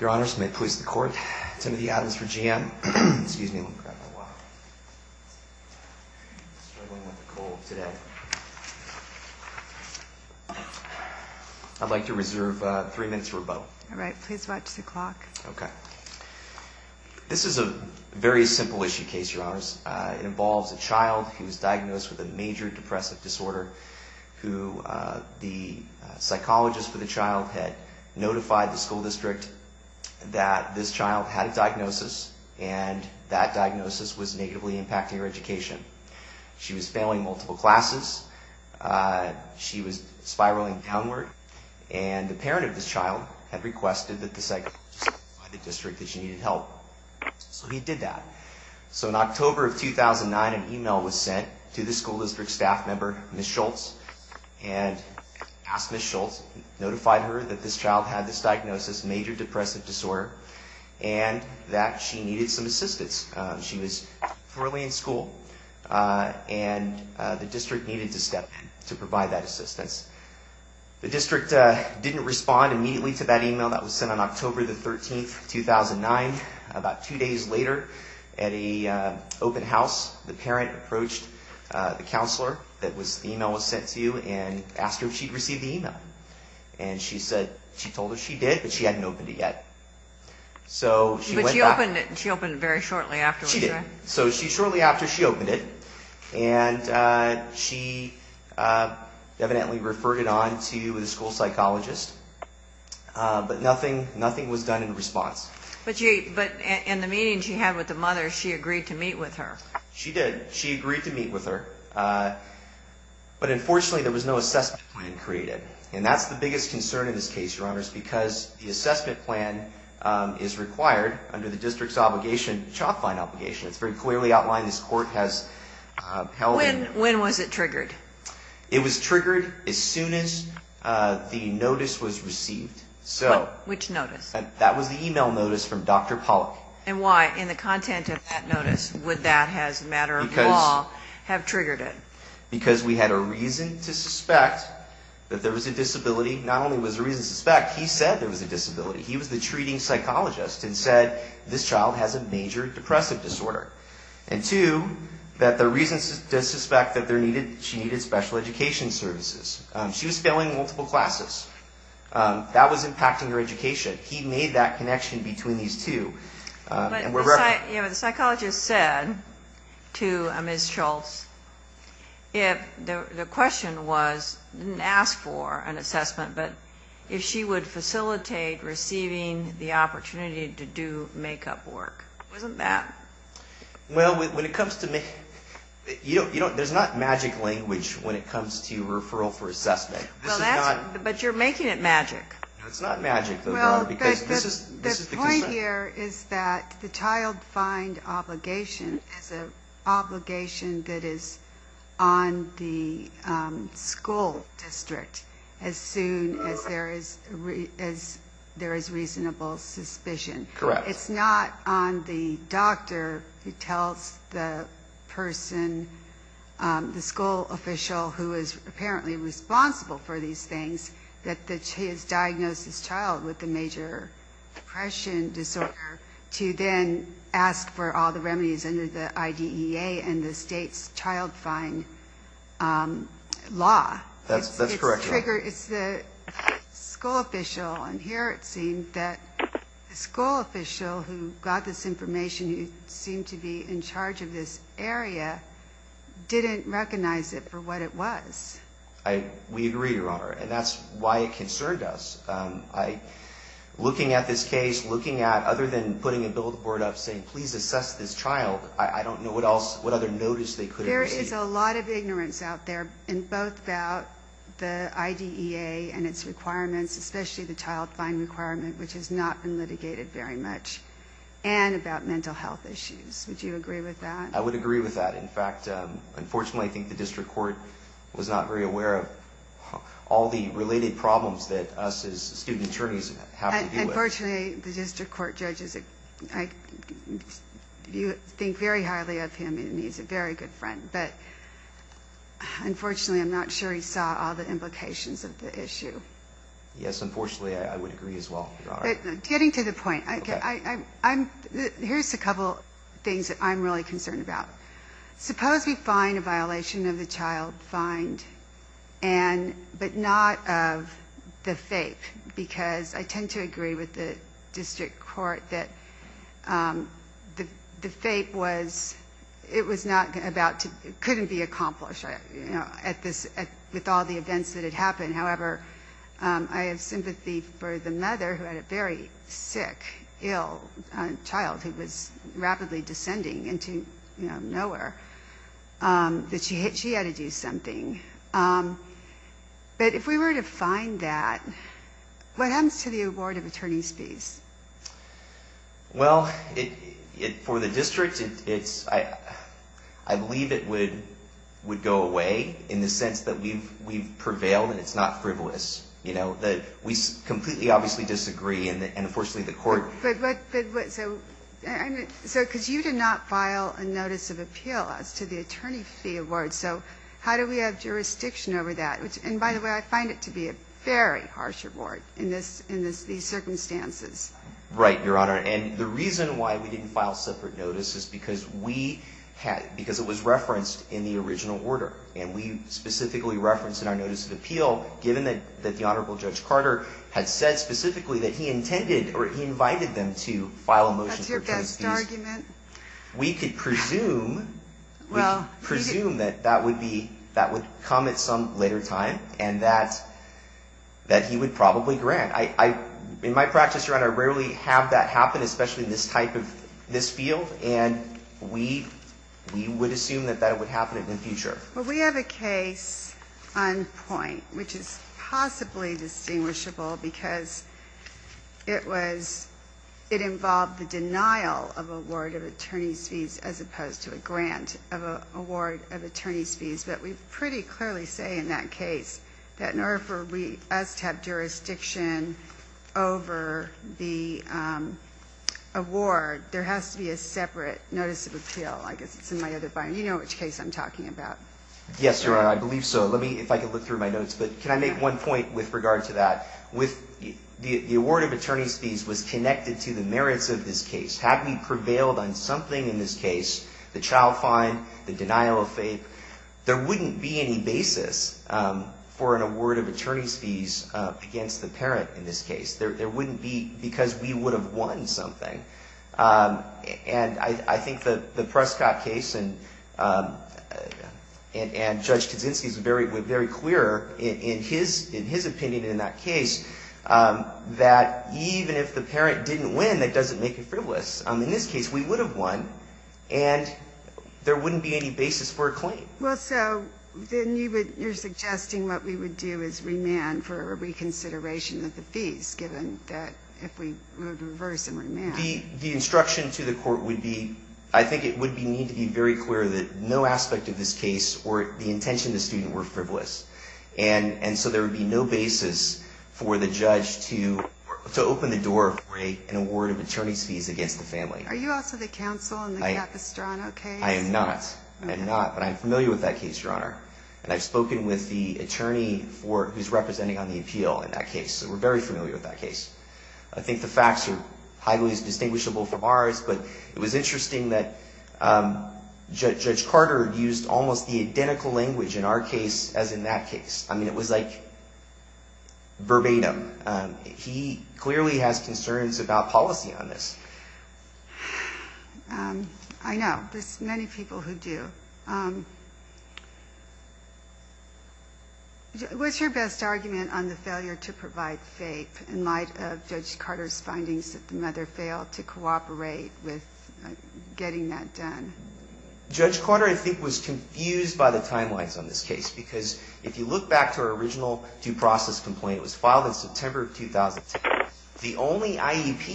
Your Honors, may it please the Court, Timothy Adams for G.M. Excuse me, let me grab my wallet. I'm struggling with a cold today. I'd like to reserve three minutes for rebuttal. All right, please watch the clock. Okay. This is a very simple issue case, Your Honors. It involves a child who was diagnosed with a major depressive disorder who the psychologist for the child had notified the school district that this child had a diagnosis, and that diagnosis was negatively impacting her education. She was failing multiple classes. She was spiraling downward, and the parent of this child had requested that the psychologist notify the district that she needed help. So he did that. So in October of 2009, an e-mail was sent to the school district staff member, Ms. Schultz, and asked Ms. Schultz, notified her that this child had this diagnosis, major depressive disorder, and that she needed some assistance. She was poorly in school, and the district needed to step in to provide that assistance. The district didn't respond immediately to that e-mail that was sent on October the 13th, 2009. About two days later, at an open house, the parent approached the counselor that the e-mail was sent to and asked her if she'd received the e-mail. And she said she told her she did, but she hadn't opened it yet. But she opened it very shortly afterwards, right? She did. So shortly after, she opened it, and she evidently referred it on to the school psychologist, but nothing was done in response. But in the meeting she had with the mother, she agreed to meet with her. She did. She agreed to meet with her. But unfortunately, there was no assessment plan created. And that's the biggest concern in this case, Your Honors, because the assessment plan is required under the district's obligation, the CHOP fine obligation. It's very clearly outlined. This court has held it. When was it triggered? It was triggered as soon as the notice was received. Which notice? That was the e-mail notice from Dr. Pollack. And why, in the content of that notice, would that, as a matter of law, have triggered it? Because we had a reason to suspect that there was a disability. Not only was there a reason to suspect, he said there was a disability. He was the treating psychologist and said, this child has a major depressive disorder. And two, that the reason to suspect that she needed special education services. She was failing multiple classes. That was impacting her education. He made that connection between these two. But the psychologist said to Ms. Schultz, the question was, didn't ask for an assessment, but if she would facilitate receiving the opportunity to do make-up work. Wasn't that? Well, when it comes to make-up, there's not magic language when it comes to referral for assessment. But you're making it magic. No, it's not magic, because this is the concern. The point here is that the child find obligation is an obligation that is on the school district as soon as there is reasonable suspicion. Correct. It's not on the doctor who tells the person, the school official who is apparently responsible for these things, that he has diagnosed this child with a major depression disorder to then ask for all the remedies under the IDEA and the state's child find law. That's correct. It's the school official. And here it seemed that the school official who got this information, who seemed to be in charge of this area, didn't recognize it for what it was. We agree, Your Honor, and that's why it concerned us. Looking at this case, looking at other than putting a billboard up saying, please assess this child, I don't know what other notice they could have issued. There is a lot of ignorance out there, both about the IDEA and its requirements, especially the child find requirement, which has not been litigated very much, and about mental health issues. Would you agree with that? I would agree with that. In fact, unfortunately, I think the district court was not very aware of all the related problems that us as student attorneys have to deal with. Unfortunately, the district court judges think very highly of him, and he's a very good friend. But unfortunately, I'm not sure he saw all the implications of the issue. Yes, unfortunately, I would agree as well, Your Honor. Getting to the point, here's a couple things that I'm really concerned about. Suppose we find a violation of the child find, but not of the FAPE, because I tend to agree with the district court that the FAPE was not about to couldn't be accomplished with all the events that had happened. However, I have sympathy for the mother who had a very sick, ill child who was rapidly descending into nowhere, that she had to do something. But if we were to find that, what happens to the award of attorney's fees? Well, for the district, I believe it would go away in the sense that we've prevailed and it's not frivolous. We completely obviously disagree, and unfortunately, the court... But, so, because you did not file a notice of appeal as to the attorney fee award, so how do we have jurisdiction over that? And by the way, I find it to be a very harsh award in these circumstances. Right, Your Honor. And the reason why we didn't file separate notices is because it was referenced in the original order, and we specifically referenced in our notice of appeal, given that the Honorable Judge Carter had said specifically that he intended or he invited them to file a motion for attorney's fees. That's your best argument. We could presume that that would come at some later time and that he would probably grant. In my practice, Your Honor, I rarely have that happen, especially in this type of field, and we would assume that that would happen in the future. Well, we have a case on point, which is possibly distinguishable because it involved the denial of award of attorney's fees as opposed to a grant of award of attorney's fees. But we pretty clearly say in that case that in order for us to have jurisdiction over the award, there has to be a separate notice of appeal. I guess it's in my other finding. You know which case I'm talking about. Yes, Your Honor, I believe so. Let me, if I can look through my notes. But can I make one point with regard to that? The award of attorney's fees was connected to the merits of this case. Had we prevailed on something in this case, the child fine, the denial of faith, there wouldn't be any basis for an award of attorney's fees against the parent in this case. There wouldn't be because we would have won something. And I think the Prescott case and Judge Kaczynski's were very clear in his opinion in that case that even if the parent didn't win, that doesn't make it frivolous. In this case, we would have won and there wouldn't be any basis for a claim. Well, so then you're suggesting what we would do is remand for reconsideration of the fees given that if we were to reverse and remand. The instruction to the court would be, I think it would need to be very clear that no aspect of this case or the intention of the student were frivolous. And so there would be no basis for the judge to open the door for an award of attorney's fees against the family. Are you also the counsel in the Capistrano case? I am not. I am not. But I'm familiar with that case, Your Honor. And I've spoken with the attorney who's representing on the appeal in that case. So we're very familiar with that case. I think the facts are highly distinguishable from ours, but it was interesting that Judge Carter used almost the identical language in our case as in that case. I mean, it was like verbatim. He clearly has concerns about policy on this. I know. There's many people who do. What's your best argument on the failure to provide faith in light of Judge Carter's findings that the mother failed to cooperate with getting that done? Judge Carter, I think, was confused by the timelines on this case because if you look back to her original due process complaint, it was filed in September of 2010. The only IEP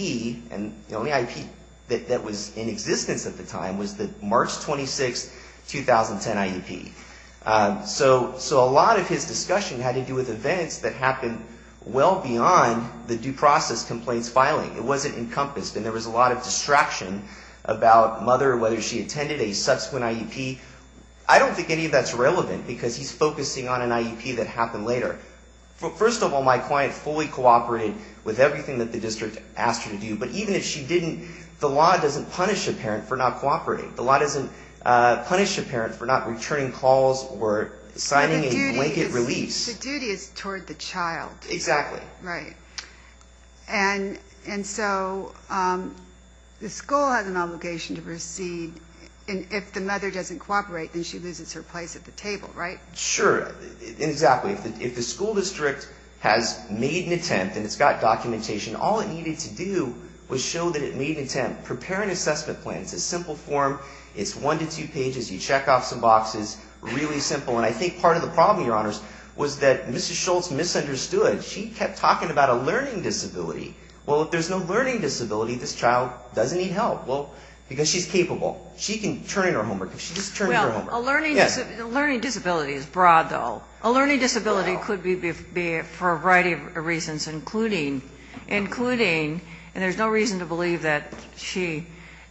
that was in existence at the time was the March 26, 2010 IEP. So a lot of his discussion had to do with events that happened well beyond the due process complaints filing. It wasn't encompassed. And there was a lot of distraction about mother, whether she attended a subsequent IEP. I don't think any of that's relevant because he's focusing on an IEP that happened later. First of all, my client fully cooperated with everything that the district asked her to do. But even if she didn't, the law doesn't punish a parent for not cooperating. The law doesn't punish a parent for not returning calls or signing a blanket release. But the duty is toward the child. Exactly. Right. And so the school has an obligation to proceed. And if the mother doesn't cooperate, then she loses her place at the table, right? Sure. Exactly. If the school district has made an attempt and it's got documentation, all it needed to do was show that it made an attempt. Prepare an assessment plan. It's a simple form. It's one to two pages. You check off some boxes. Really simple. And I think part of the problem, Your Honors, was that Mrs. Schultz misunderstood. She kept talking about a learning disability. Well, if there's no learning disability, this child doesn't need help. Well, because she's capable. She can turn in her homework if she just turns in her homework. Well, a learning disability is broad, though. A learning disability could be for a variety of reasons, including, and there's no reason to believe that she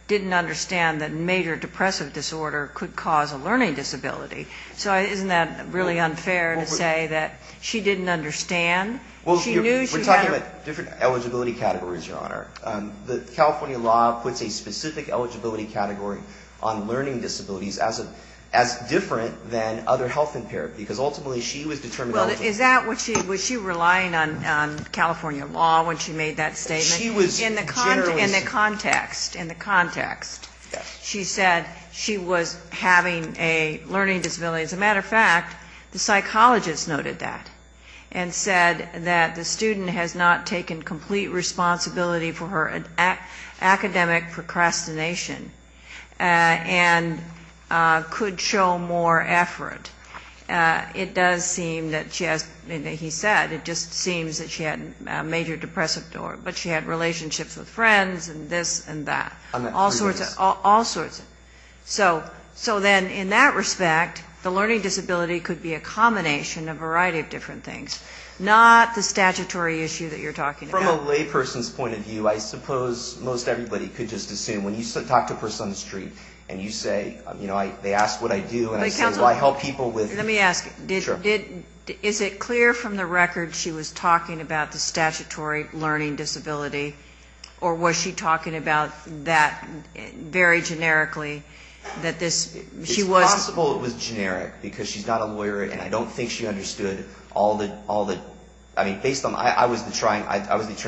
didn't understand that major depressive disorder could cause a learning disability. So isn't that really unfair to say that she didn't understand? Well, we're talking about different eligibility categories, Your Honor. The California law puts a specific eligibility category on learning disabilities as different than other health and therapy, because ultimately she was determined eligible. Was she relying on California law when she made that statement? She was generous. In the context, she said she was having a learning disability. As a matter of fact, the psychologist noted that and said that the student has not taken complete responsibility for her academic procrastination and could show more effort. It does seem that she has, he said, it just seems that she had major depressive disorder, but she had relationships with friends and this and that. All sorts of, all sorts. So then in that respect, the learning disability could be a combination of a variety of different things, not the statutory issue that you're talking about. From a layperson's point of view, I suppose most everybody could just assume when you talk to a person on the street and you say, you know, they ask what I do and I say, well, I help people with. Let me ask. Sure. Is it clear from the record she was talking about the statutory learning disability, or was she talking about that very generically, that this, she was. It's possible it was generic, because she's not a lawyer and I don't think she understood all the, I mean, based on, I was the attorney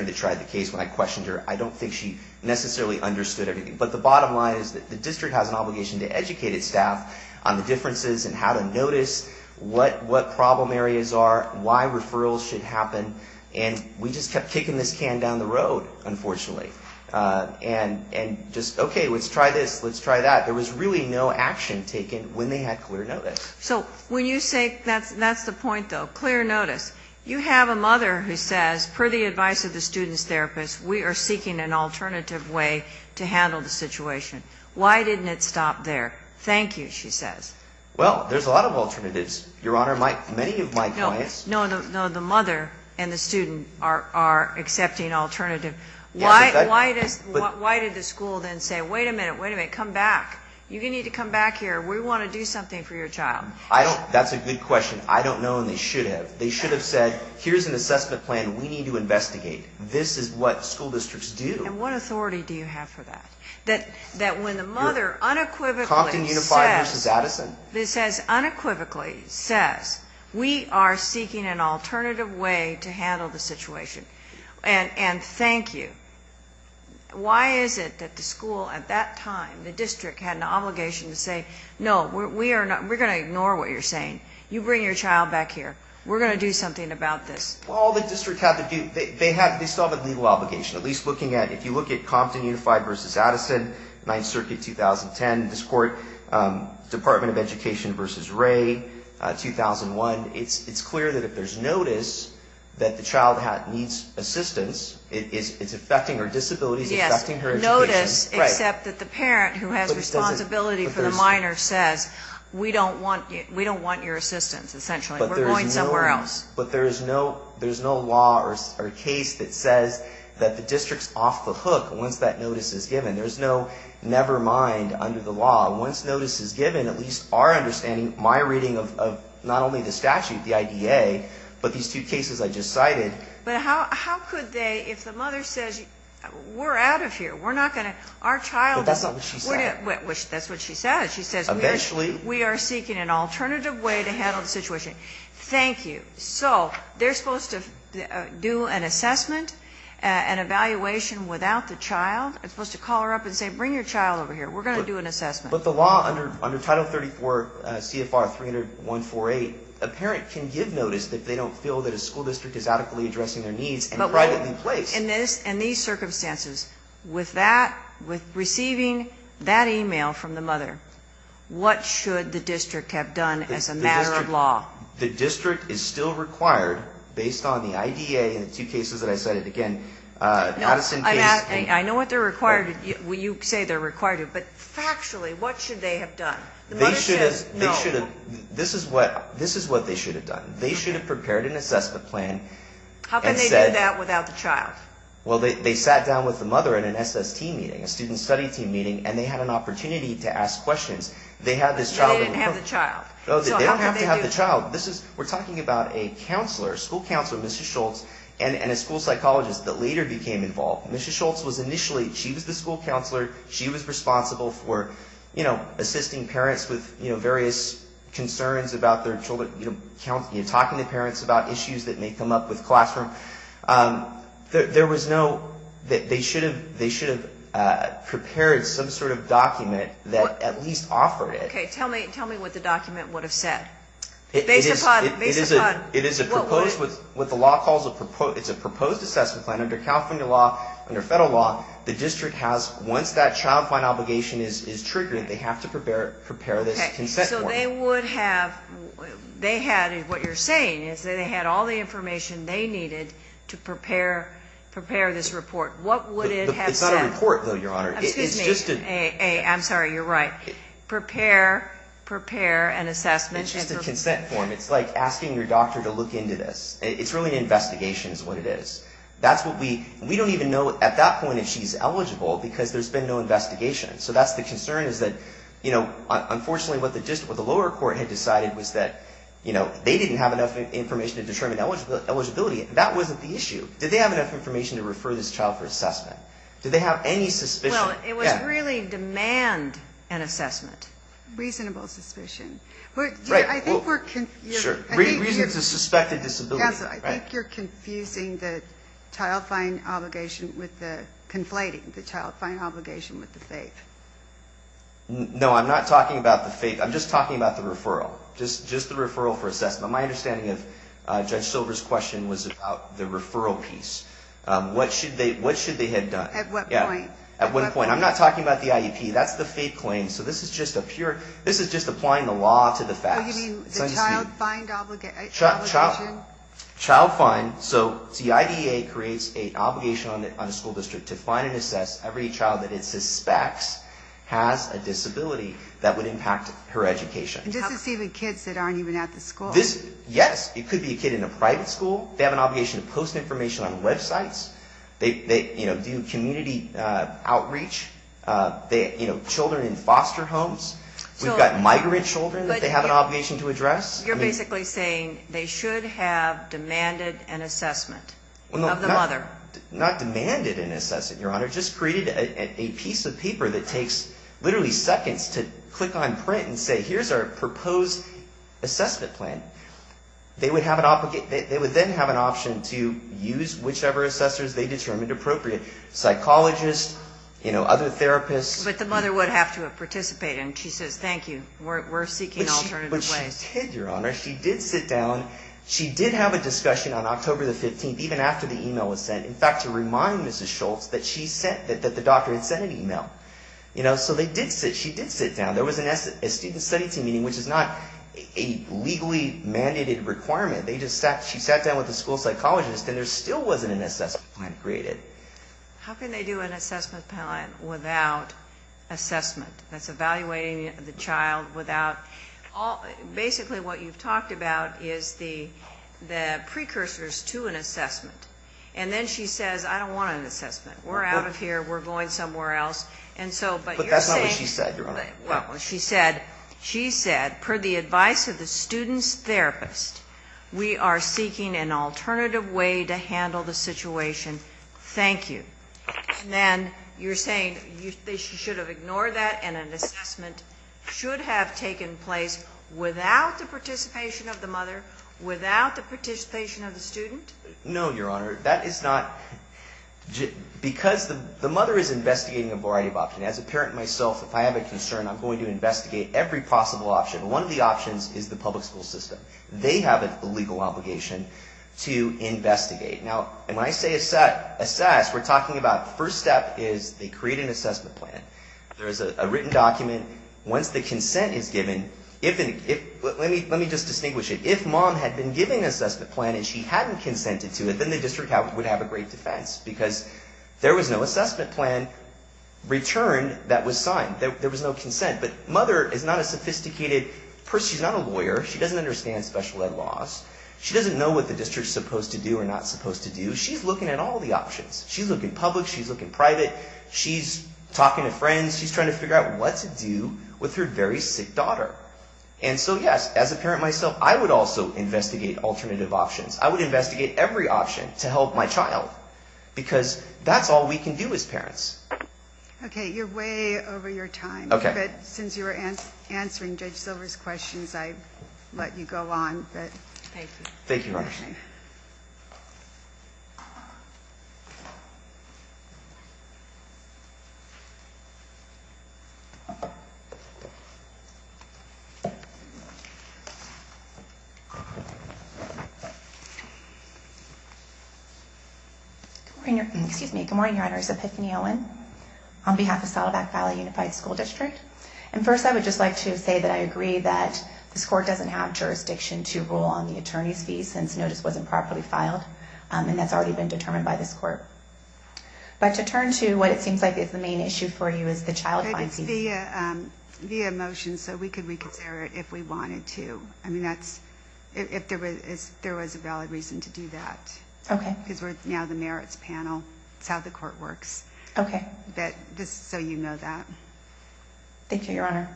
that tried the case when I questioned her. I don't think she necessarily understood everything. But the bottom line is that the district has an obligation to educate its staff on the differences and how to notice what problem areas are, why referrals should happen. And we just kept kicking this can down the road, unfortunately. And just, okay, let's try this, let's try that. There was really no action taken when they had clear notice. So when you say, that's the point, though, clear notice, we are seeking an alternative way to handle the situation. Why didn't it stop there? Thank you, she says. Well, there's a lot of alternatives, Your Honor. Many of my clients. No, the mother and the student are accepting alternative. Why did the school then say, wait a minute, wait a minute, come back. You need to come back here. We want to do something for your child. That's a good question. I don't know, and they should have. They should have said, here's an assessment plan we need to investigate. This is what school districts do. And what authority do you have for that? That when the mother unequivocally says. Compton Unified versus Addison. It says, unequivocally says, we are seeking an alternative way to handle the situation. And thank you. Why is it that the school at that time, the district, had an obligation to say, no, we're going to ignore what you're saying. You bring your child back here. We're going to do something about this. Well, all the districts had to do, they still have a legal obligation. At least looking at, if you look at Compton Unified versus Addison, 9th Circuit, 2010. This court, Department of Education versus Ray, 2001. It's clear that if there's notice that the child needs assistance, it's affecting her disability, it's affecting her education. Yes, notice, except that the parent who has responsibility for the minor says, we don't want your assistance, essentially. We're going somewhere else. But there is no law or case that says that the district's off the hook once that notice is given. There's no never mind under the law. Once notice is given, at least our understanding, my reading of not only the statute, the IDA, but these two cases I just cited. But how could they, if the mother says, we're out of here, we're not going to, our child. But that's not what she said. That's what she said. She says we are seeking an alternative way to handle the situation. Thank you. So they're supposed to do an assessment, an evaluation without the child. They're supposed to call her up and say, bring your child over here. We're going to do an assessment. But the law under Title 34 CFR 300-148, a parent can give notice if they don't feel that a school district is adequately addressing their needs and privately placed. In these circumstances, with that, with receiving that e-mail from the mother, what should the district have done as a matter of law? The district is still required, based on the IDA and the two cases that I cited, again, Addison case. I know what they're required to, you say they're required to. But factually, what should they have done? They should have, this is what they should have done. They should have prepared an assessment plan and said. How could they do that without the child? Well, they sat down with the mother in an SST meeting, a student study team meeting, and they had an opportunity to ask questions. They had this child. But they didn't have the child. They don't have to have the child. This is, we're talking about a counselor, a school counselor, Mrs. Schultz, and a school psychologist that later became involved. Mrs. Schultz was initially, she was the school counselor. She was responsible for, you know, assisting parents with, you know, various concerns about their children, you know, talking to parents about issues that may come up with classroom. There was no, they should have prepared some sort of document that at least offered it. Okay. Tell me what the document would have said. It is a proposed, with the law calls, it's a proposed assessment plan under California law, under federal law. The district has, once that child find obligation is triggered, they have to prepare this consent form. So they would have, they had, what you're saying is they had all the information they needed to prepare this report. What would it have said? It's not a report, though, Your Honor. Excuse me. I'm sorry. You're right. Prepare, prepare an assessment. It's just a consent form. It's like asking your doctor to look into this. It's really an investigation is what it is. That's what we, we don't even know at that point if she's eligible because there's been no investigation. So that's the concern is that, you know, unfortunately what the lower court had decided was that, you know, they didn't have enough information to determine eligibility. That wasn't the issue. Did they have enough information to refer this child for assessment? Did they have any suspicion? Well, it was really demand an assessment. Reasonable suspicion. Right. I think we're confusing. Sure. Reason to suspect a disability. Counsel, I think you're confusing the child find obligation with the, conflating the child find obligation with the faith. No, I'm not talking about the faith. I'm just talking about the referral, just the referral for assessment. My understanding of Judge Silver's question was about the referral piece. What should they have done? At what point? At what point? I'm not talking about the IEP. That's the faith claim. So this is just a pure, this is just applying the law to the facts. So you mean the child find obligation? Child find. So the IDEA creates an obligation on the school district to find and assess every child that it suspects has a disability that would impact her education. Just to see the kids that aren't even at the school. Yes. It could be a kid in a private school. They have an obligation to post information on websites. They, you know, do community outreach. They, you know, children in foster homes. We've got migrant children that they have an obligation to address. You're basically saying they should have demanded an assessment of the mother. Not demanded an assessment, Your Honor. Just created a piece of paper that takes literally seconds to click on print and say, here's our proposed assessment plan. They would then have an option to use whichever assessors they determined appropriate. Psychologists, you know, other therapists. But the mother would have to have participated. And she says, thank you. We're seeking alternative ways. But she did, Your Honor. She did sit down. She did have a discussion on October the 15th, even after the email was sent. In fact, to remind Mrs. Schultz that she sent, that the doctor had sent an email. You know, so they did sit, she did sit down. There was a student study team meeting, which is not a legally mandated requirement. They just sat, she sat down with the school psychologist. And there still wasn't an assessment plan created. How can they do an assessment plan without assessment? That's evaluating the child without all, basically what you've talked about is the precursors to an assessment. And then she says, I don't want an assessment. We're out of here. We're going somewhere else. But that's not what she said, Your Honor. Well, she said, she said, per the advice of the student's therapist, we are seeking an alternative way to handle the situation. Thank you. And then you're saying they should have ignored that and an assessment should have taken place without the participation of the mother, without the participation of the student? No, Your Honor. That is not, because the mother is investigating a variety of options. As a parent myself, if I have a concern, I'm going to investigate every possible option. One of the options is the public school system. They have a legal obligation to investigate. Now, when I say assess, we're talking about the first step is they create an assessment plan. There is a written document. Once the consent is given, let me just distinguish it. If mom had been given an assessment plan and she hadn't consented to it, then the district would have a great defense because there was no assessment plan returned that was signed. There was no consent. But mother is not a sophisticated person. She's not a lawyer. She doesn't understand special ed laws. She doesn't know what the district's supposed to do or not supposed to do. She's looking at all the options. She's looking public. She's looking private. She's talking to friends. She's trying to figure out what to do with her very sick daughter. And so, yes, as a parent myself, I would also investigate alternative options. I would investigate every option to help my child because that's all we can do as parents. Okay. You're way over your time. Okay. But since you were answering Judge Silver's questions, I'd let you go on. Thank you. Thank you, Roger. Good morning, Your Honors. Epiphany Owen on behalf of Saddleback Valley Unified School District. And first, I would just like to say that I agree that this court doesn't have jurisdiction to rule on the attorney's fees since notice wasn't properly filed and that's already been determined by this court. But to turn to what it seems like is the main issue for you is the child fine fees. Via motion, so we could reconsider it if we wanted to. I mean, that's if there was a valid reason to do that. Okay. Because we're now the merits panel. It's how the court works. Okay. But just so you know that. Thank you, Your Honor.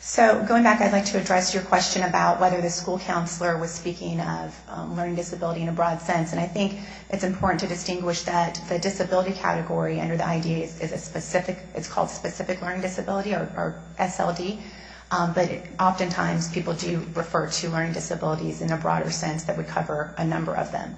So going back, I'd like to address your question about whether the school counselor was speaking of learning disability in a broad sense, and I think it's important to distinguish that the disability category under the ID category is a specific, it's called specific learning disability or SLD. But oftentimes, people do refer to learning disabilities in a broader sense that would cover a number of them.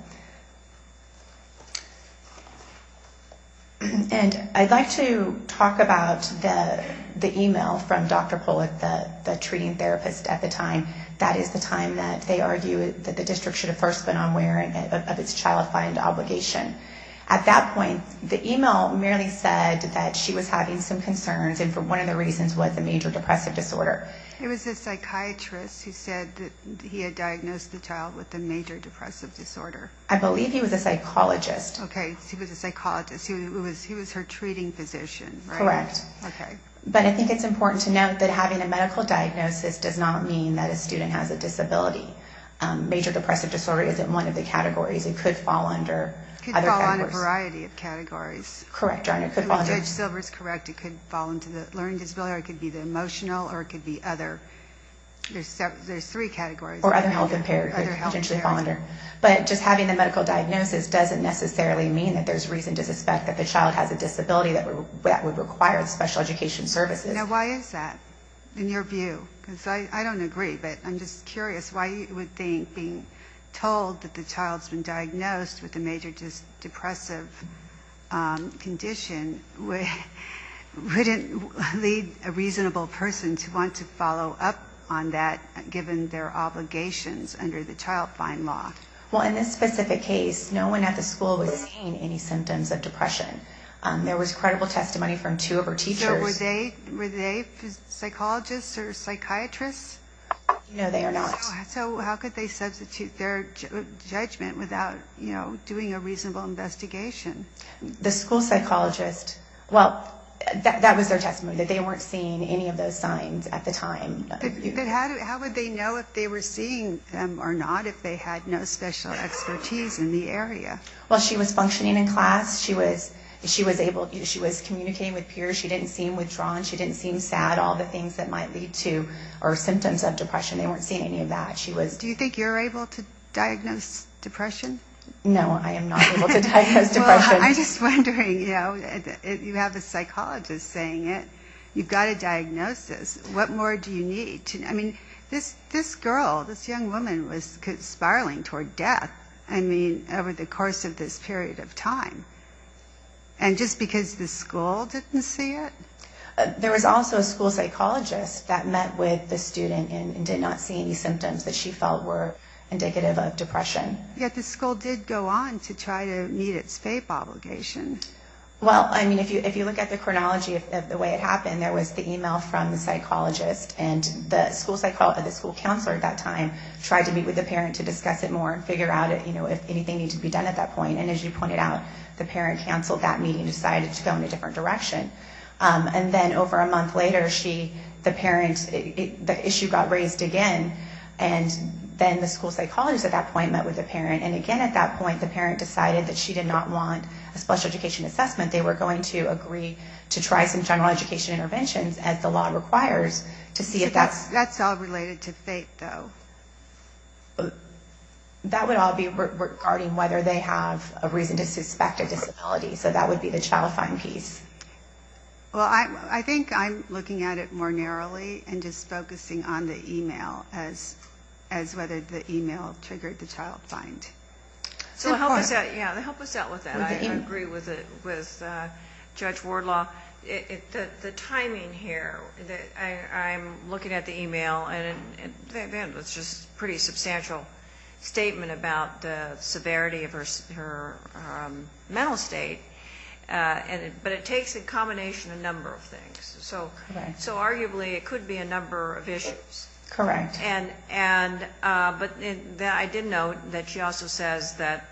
And I'd like to talk about the email from Dr. Pollack, the treating therapist at the time. That is the time that they argue that the district should have first been unwearing of its child fine obligation. At that point, the email merely said that she was having some concerns, and for one of the reasons was a major depressive disorder. It was a psychiatrist who said that he had diagnosed the child with a major depressive disorder. I believe he was a psychologist. Okay. He was a psychologist. He was her treating physician, right? Correct. Okay. But I think it's important to note that having a medical diagnosis does not mean that a student has a disability. Major depressive disorder isn't one of the categories. It could fall under other categories. It could fall under a variety of categories. Correct. Judge Silver is correct. It could fall under the learning disability, or it could be the emotional, or it could be other. There's three categories. Or other health impairments. But just having a medical diagnosis doesn't necessarily mean that there's reason to suspect that the child has a disability that would require special education services. Now, why is that in your view? Because I don't agree, but I'm just curious why you would think being told that the child's been diagnosed with a major depressive condition wouldn't lead a reasonable person to want to follow up on that, given their obligations under the child find law. Well, in this specific case, no one at the school was seeing any symptoms of depression. There was credible testimony from two of her teachers. Were they psychologists or psychiatrists? No, they are not. So how could they substitute their judgment without doing a reasonable investigation? The school psychologist, well, that was their testimony, that they weren't seeing any of those signs at the time. How would they know if they were seeing them or not if they had no special expertise in the area? Well, she was functioning in class. She was communicating with peers. She didn't seem withdrawn. She didn't seem sad. All the things that might lead to or symptoms of depression, they weren't seeing any of that. Do you think you're able to diagnose depression? No, I am not able to diagnose depression. Well, I'm just wondering, you know, you have a psychologist saying it. You've got a diagnosis. What more do you need? I mean, this girl, this young woman was spiraling toward death, I mean, over the course of this period of time. And just because the school didn't see it? There was also a school psychologist that met with the student and did not see any symptoms that she felt were indicative of depression. Yet the school did go on to try to meet its FAPE obligation. Well, I mean, if you look at the chronology of the way it happened, there was the email from the psychologist, and the school counselor at that time tried to meet with the parent to discuss it more and figure out, you know, if anything needed to be done at that point. And as you pointed out, the parent canceled that meeting and decided to go in a different direction. And then over a month later, the issue got raised again, and then the school psychologist at that point met with the parent. And again at that point, the parent decided that she did not want a special education assessment. They were going to agree to try some general education interventions, as the law requires, to see if that's... That's all related to FAPE, though. That would all be regarding whether they have a reason to suspect a disability. So that would be the child find piece. Well, I think I'm looking at it more narrowly and just focusing on the email as whether the email triggered the child find. So help us out with that. I agree with Judge Wardlaw. The timing here, I'm looking at the email, and it's just a pretty substantial statement about the severity of her mental state, but it takes a combination of a number of things. So arguably it could be a number of issues. Correct. But I did note that she also says that,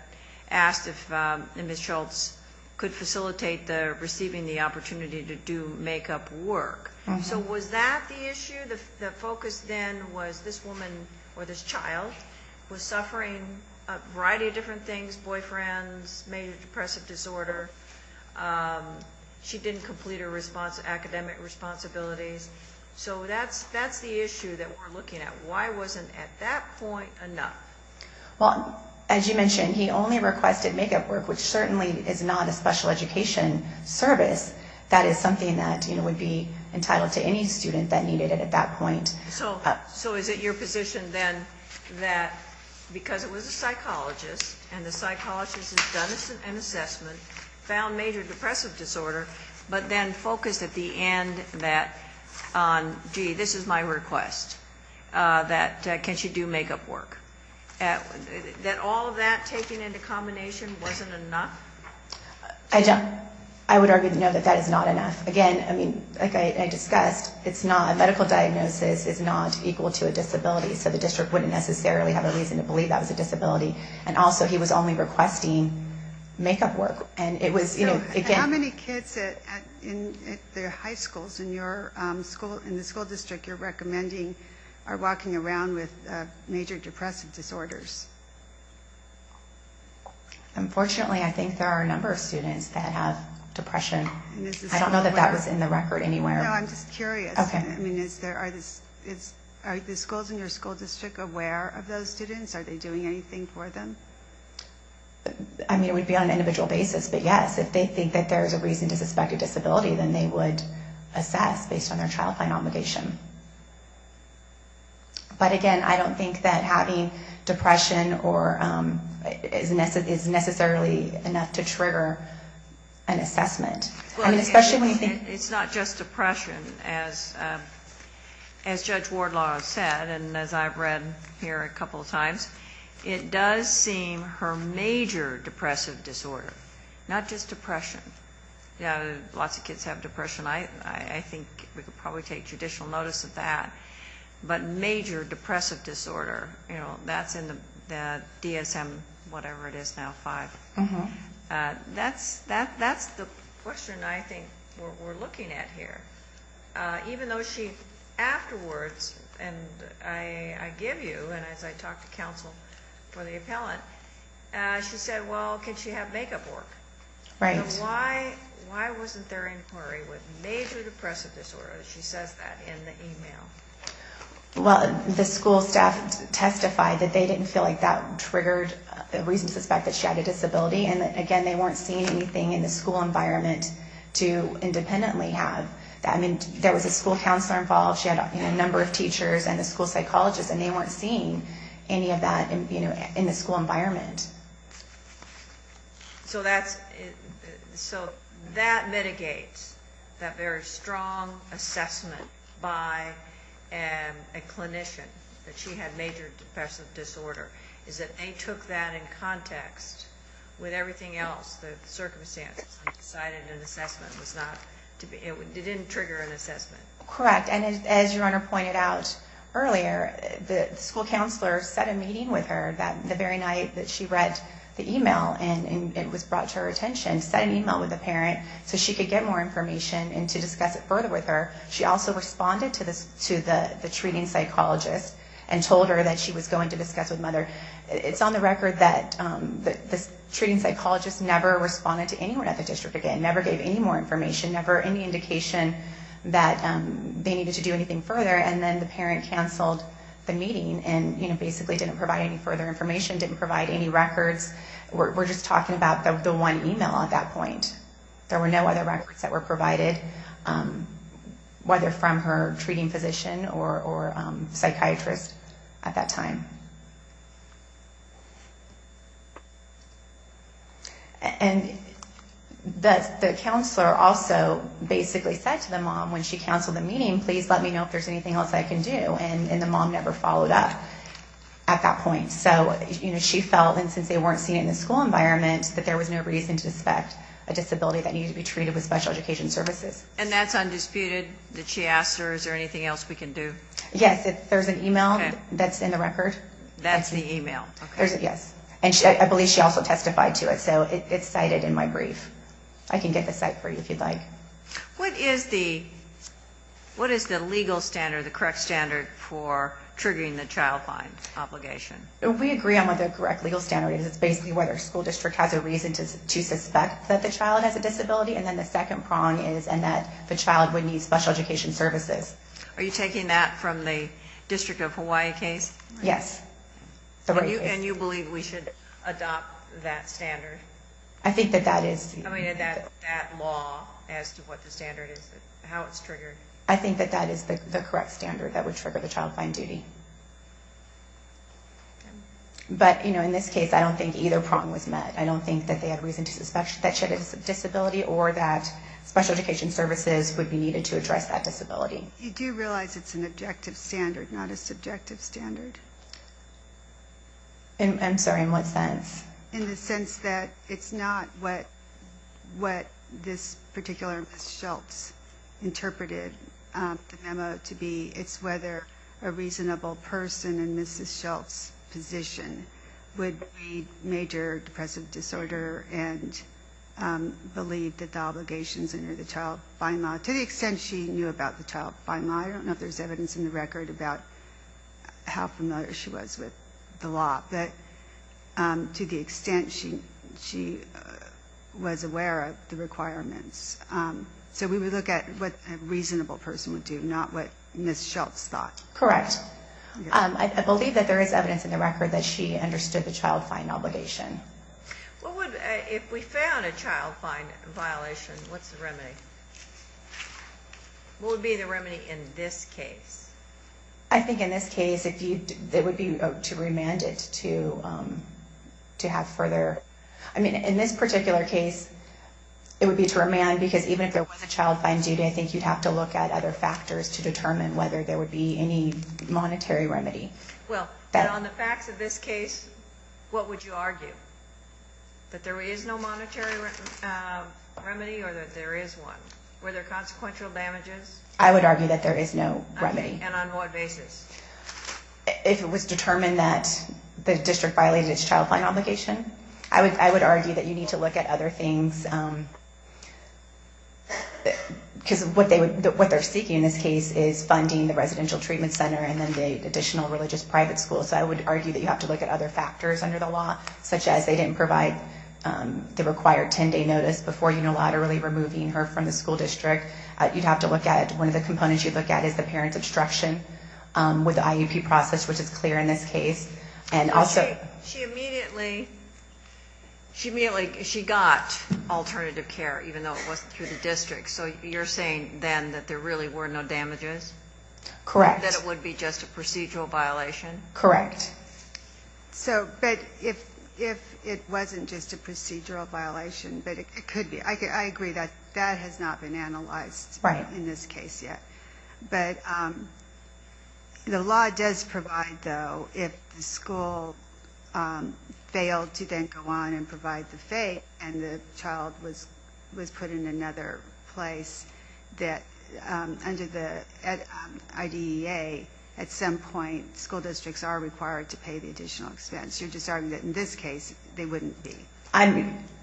asked if Ms. Schultz could facilitate receiving the opportunity to do makeup work. So was that the issue? The focus then was this woman or this child was suffering a variety of different things, boyfriends, maybe depressive disorder. She didn't complete her academic responsibilities. So that's the issue that we're looking at. Why wasn't, at that point, enough? Well, as you mentioned, he only requested makeup work, which certainly is not a special education service. That is something that would be entitled to any student that needed it at that point. So is it your position then that because it was a psychologist and the psychologist has done an assessment, found major depressive disorder, but then focused at the end that, gee, this is my request, that can she do makeup work? That all of that taken into combination wasn't enough? I would argue, no, that that is not enough. Again, like I discussed, a medical diagnosis is not equal to a disability, so the district wouldn't necessarily have a reason to believe that was a disability. And also he was only requesting makeup work. How many kids in the high schools in the school district you're recommending are walking around with major depressive disorders? Unfortunately, I think there are a number of students that have depression. I don't know that that was in the record anywhere. No, I'm just curious. Are the schools in your school district aware of those students? Are they doing anything for them? I mean, it would be on an individual basis. But, yes, if they think that there is a reason to suspect a disability, then they would assess based on their child plan obligation. But, again, I don't think that having depression is necessarily enough to trigger an assessment. I mean, especially when you think... It's not just depression. As Judge Wardlaw said, and as I've read here a couple of times, it does seem her major depressive disorder, not just depression. Lots of kids have depression. I think we could probably take judicial notice of that. But major depressive disorder, that's in the DSM whatever it is now, five. That's the question I think we're looking at here. Even though she, afterwards, and I give you, and as I talk to counsel for the appellant, she said, well, can she have makeup work? Right. Why wasn't there inquiry with major depressive disorder? She says that in the email. Well, the school staff testified that they didn't feel like that triggered a reason to suspect that she had a disability. And, again, they weren't seeing anything in the school environment to independently have. I mean, there was a school counselor involved. She had a number of teachers and a school psychologist, and they weren't seeing any of that in the school environment. So that mitigates that very strong assessment by a clinician that she had major depressive disorder, is that they took that in context with everything else, the circumstances, and decided an assessment was not, it didn't trigger an assessment. Correct. And as your Honor pointed out earlier, the school counselor set a meeting with her the very night that she read the email, and it was brought to her attention, set an email with the parent so she could get more information and to discuss it further with her. She also responded to the treating psychologist and told her that she was going to discuss It's on the record that the treating psychologist never responded to anyone at the district again, never gave any more information, never any indication that they needed to do anything further, and then the parent canceled the meeting and, you know, basically didn't provide any further information, didn't provide any records. We're just talking about the one email at that point. There were no other records that were provided, whether from her treating physician or psychiatrist at that time. And the counselor also basically said to the mom when she canceled the meeting, please let me know if there's anything else I can do, and the mom never followed up at that point. So, you know, she felt, and since they weren't seeing it in the school environment, that there was no reason to suspect a disability that needed to be treated with special education services. And that's undisputed? Did she ask, is there anything else we can do? Yes, there's an email that's in the record. That's the email? Yes, and I believe she also testified to it, so it's cited in my brief. I can get the site for you if you'd like. What is the legal standard, the correct standard for triggering the child find obligation? We agree on what the correct legal standard is. It's basically whether a school district has a reason to suspect that the child has a disability, and then the second prong is in that the child would need special education services. Are you taking that from the District of Hawaii case? Yes. And you believe we should adopt that standard? I think that that is. I mean, that law as to what the standard is, how it's triggered. I think that that is the correct standard that would trigger the child find duty. But, you know, in this case, I don't think either prong was met. I don't think that they had reason to suspect that she had a disability or that special education services would be needed to address that disability. Do you realize it's an objective standard, not a subjective standard? I'm sorry, in what sense? In the sense that it's not what this particular Ms. Schultz interpreted the memo to be. It's whether a reasonable person in Ms. Schultz's position would be major depressive disorder and believe that the obligations under the child find law, to the extent she knew about the child find law, I don't know if there's evidence in the record about how familiar she was with the law, but to the extent she was aware of the requirements. So we would look at what a reasonable person would do, not what Ms. Schultz thought. Correct. I believe that there is evidence in the record that she understood the child find obligation. If we found a child find violation, what's the remedy? What would be the remedy in this case? I think in this case it would be to remand it to have further... I mean, in this particular case it would be to remand because even if there was a child find duty, I think you'd have to look at other factors to determine whether there would be any monetary remedy. Well, but on the facts of this case, what would you argue? That there is no monetary remedy or that there is one? Were there consequential damages? I would argue that there is no remedy. And on what basis? If it was determined that the district violated its child find obligation, I would argue that you need to look at other things because what they're seeking in this case is funding the residential treatment center and then the additional religious private school. So I would argue that you have to look at other factors under the law, such as they didn't provide the required 10-day notice before unilaterally removing her from the school district. You'd have to look at... One of the components you'd look at is the parent obstruction with the IEP process, which is clear in this case. And also... She immediately... She immediately... She got alternative care even though it wasn't through the district. So you're saying then that there really were no damages? Correct. That it would be just a procedural violation? Correct. So... But if it wasn't just a procedural violation, but it could be... I agree that that has not been analyzed in this case yet. But the law does provide, though, if the school failed to then go on and provide the fee and the child was put in another place that under the IDEA, at some point school districts are required to pay the additional expense. You're just arguing that in this case they wouldn't be.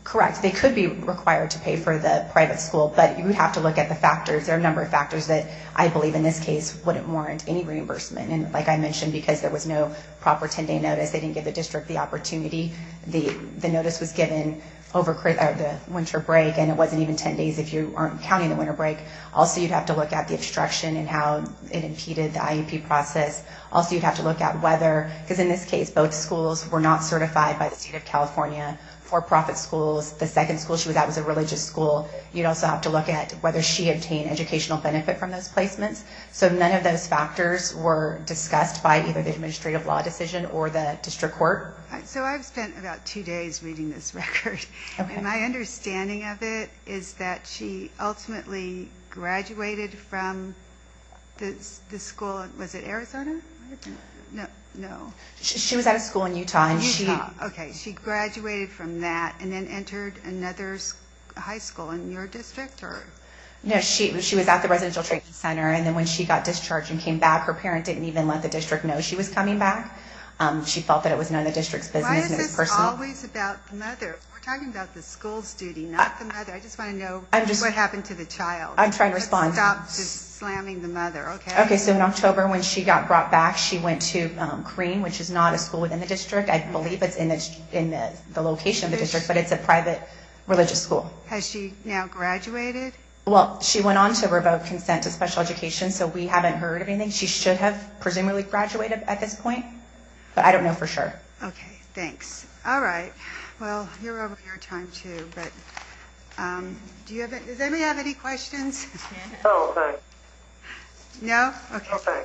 Correct. They could be required to pay for the private school, but you would have to look at the factors. There are a number of factors that I believe in this case wouldn't warrant any reimbursement. And like I mentioned, because there was no proper 10-day notice, they didn't give the district the opportunity. The notice was given over the winter break, and it wasn't even 10 days if you weren't counting the winter break. Also, you'd have to look at the obstruction and how it impeded the IEP process. Also, you'd have to look at whether... Because in this case, both schools were not certified by the state of California. For-profit schools, the second school she was at was a religious school. You'd also have to look at whether she obtained educational benefit from those placements. So none of those factors were discussed by either the administrative law decision or the district court. So I've spent about two days reading this record, and my understanding of it is that she ultimately graduated from the school. Was it Arizona? No. She was at a school in Utah. Utah. Okay. She graduated from that and then entered another high school in your district? No. She was at the residential training center, and then when she got discharged and came back, her parent didn't even let the district know she was coming back. She felt that it was none of the district's business, and it was personal. Why is this always about the mother? We're talking about the school's duty, not the mother. I just want to know what happened to the child. I'm trying to respond. Stop just slamming the mother, okay? Okay. So in October, when she got brought back, she went to Green, which is not a school within the district. I believe it's in the location of the district, but it's a private religious school. Has she now graduated? Well, she went on to revoke consent to special education, so we haven't heard of anything. She should have presumably graduated at this point, but I don't know for sure. Okay. Thanks. All right. Well, you're over your time, too, but does anybody have any questions? No. Okay. No? Okay.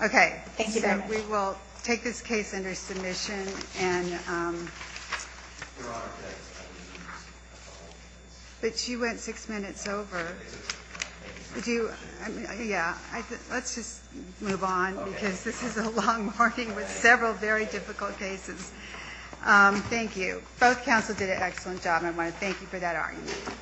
All right. Thank you very much. We will take this case under submission. But you went six minutes over. Yeah. Let's just move on because this is a long morning with several very difficult cases. Thank you. Both counsels did an excellent job, and I want to thank you for that argument.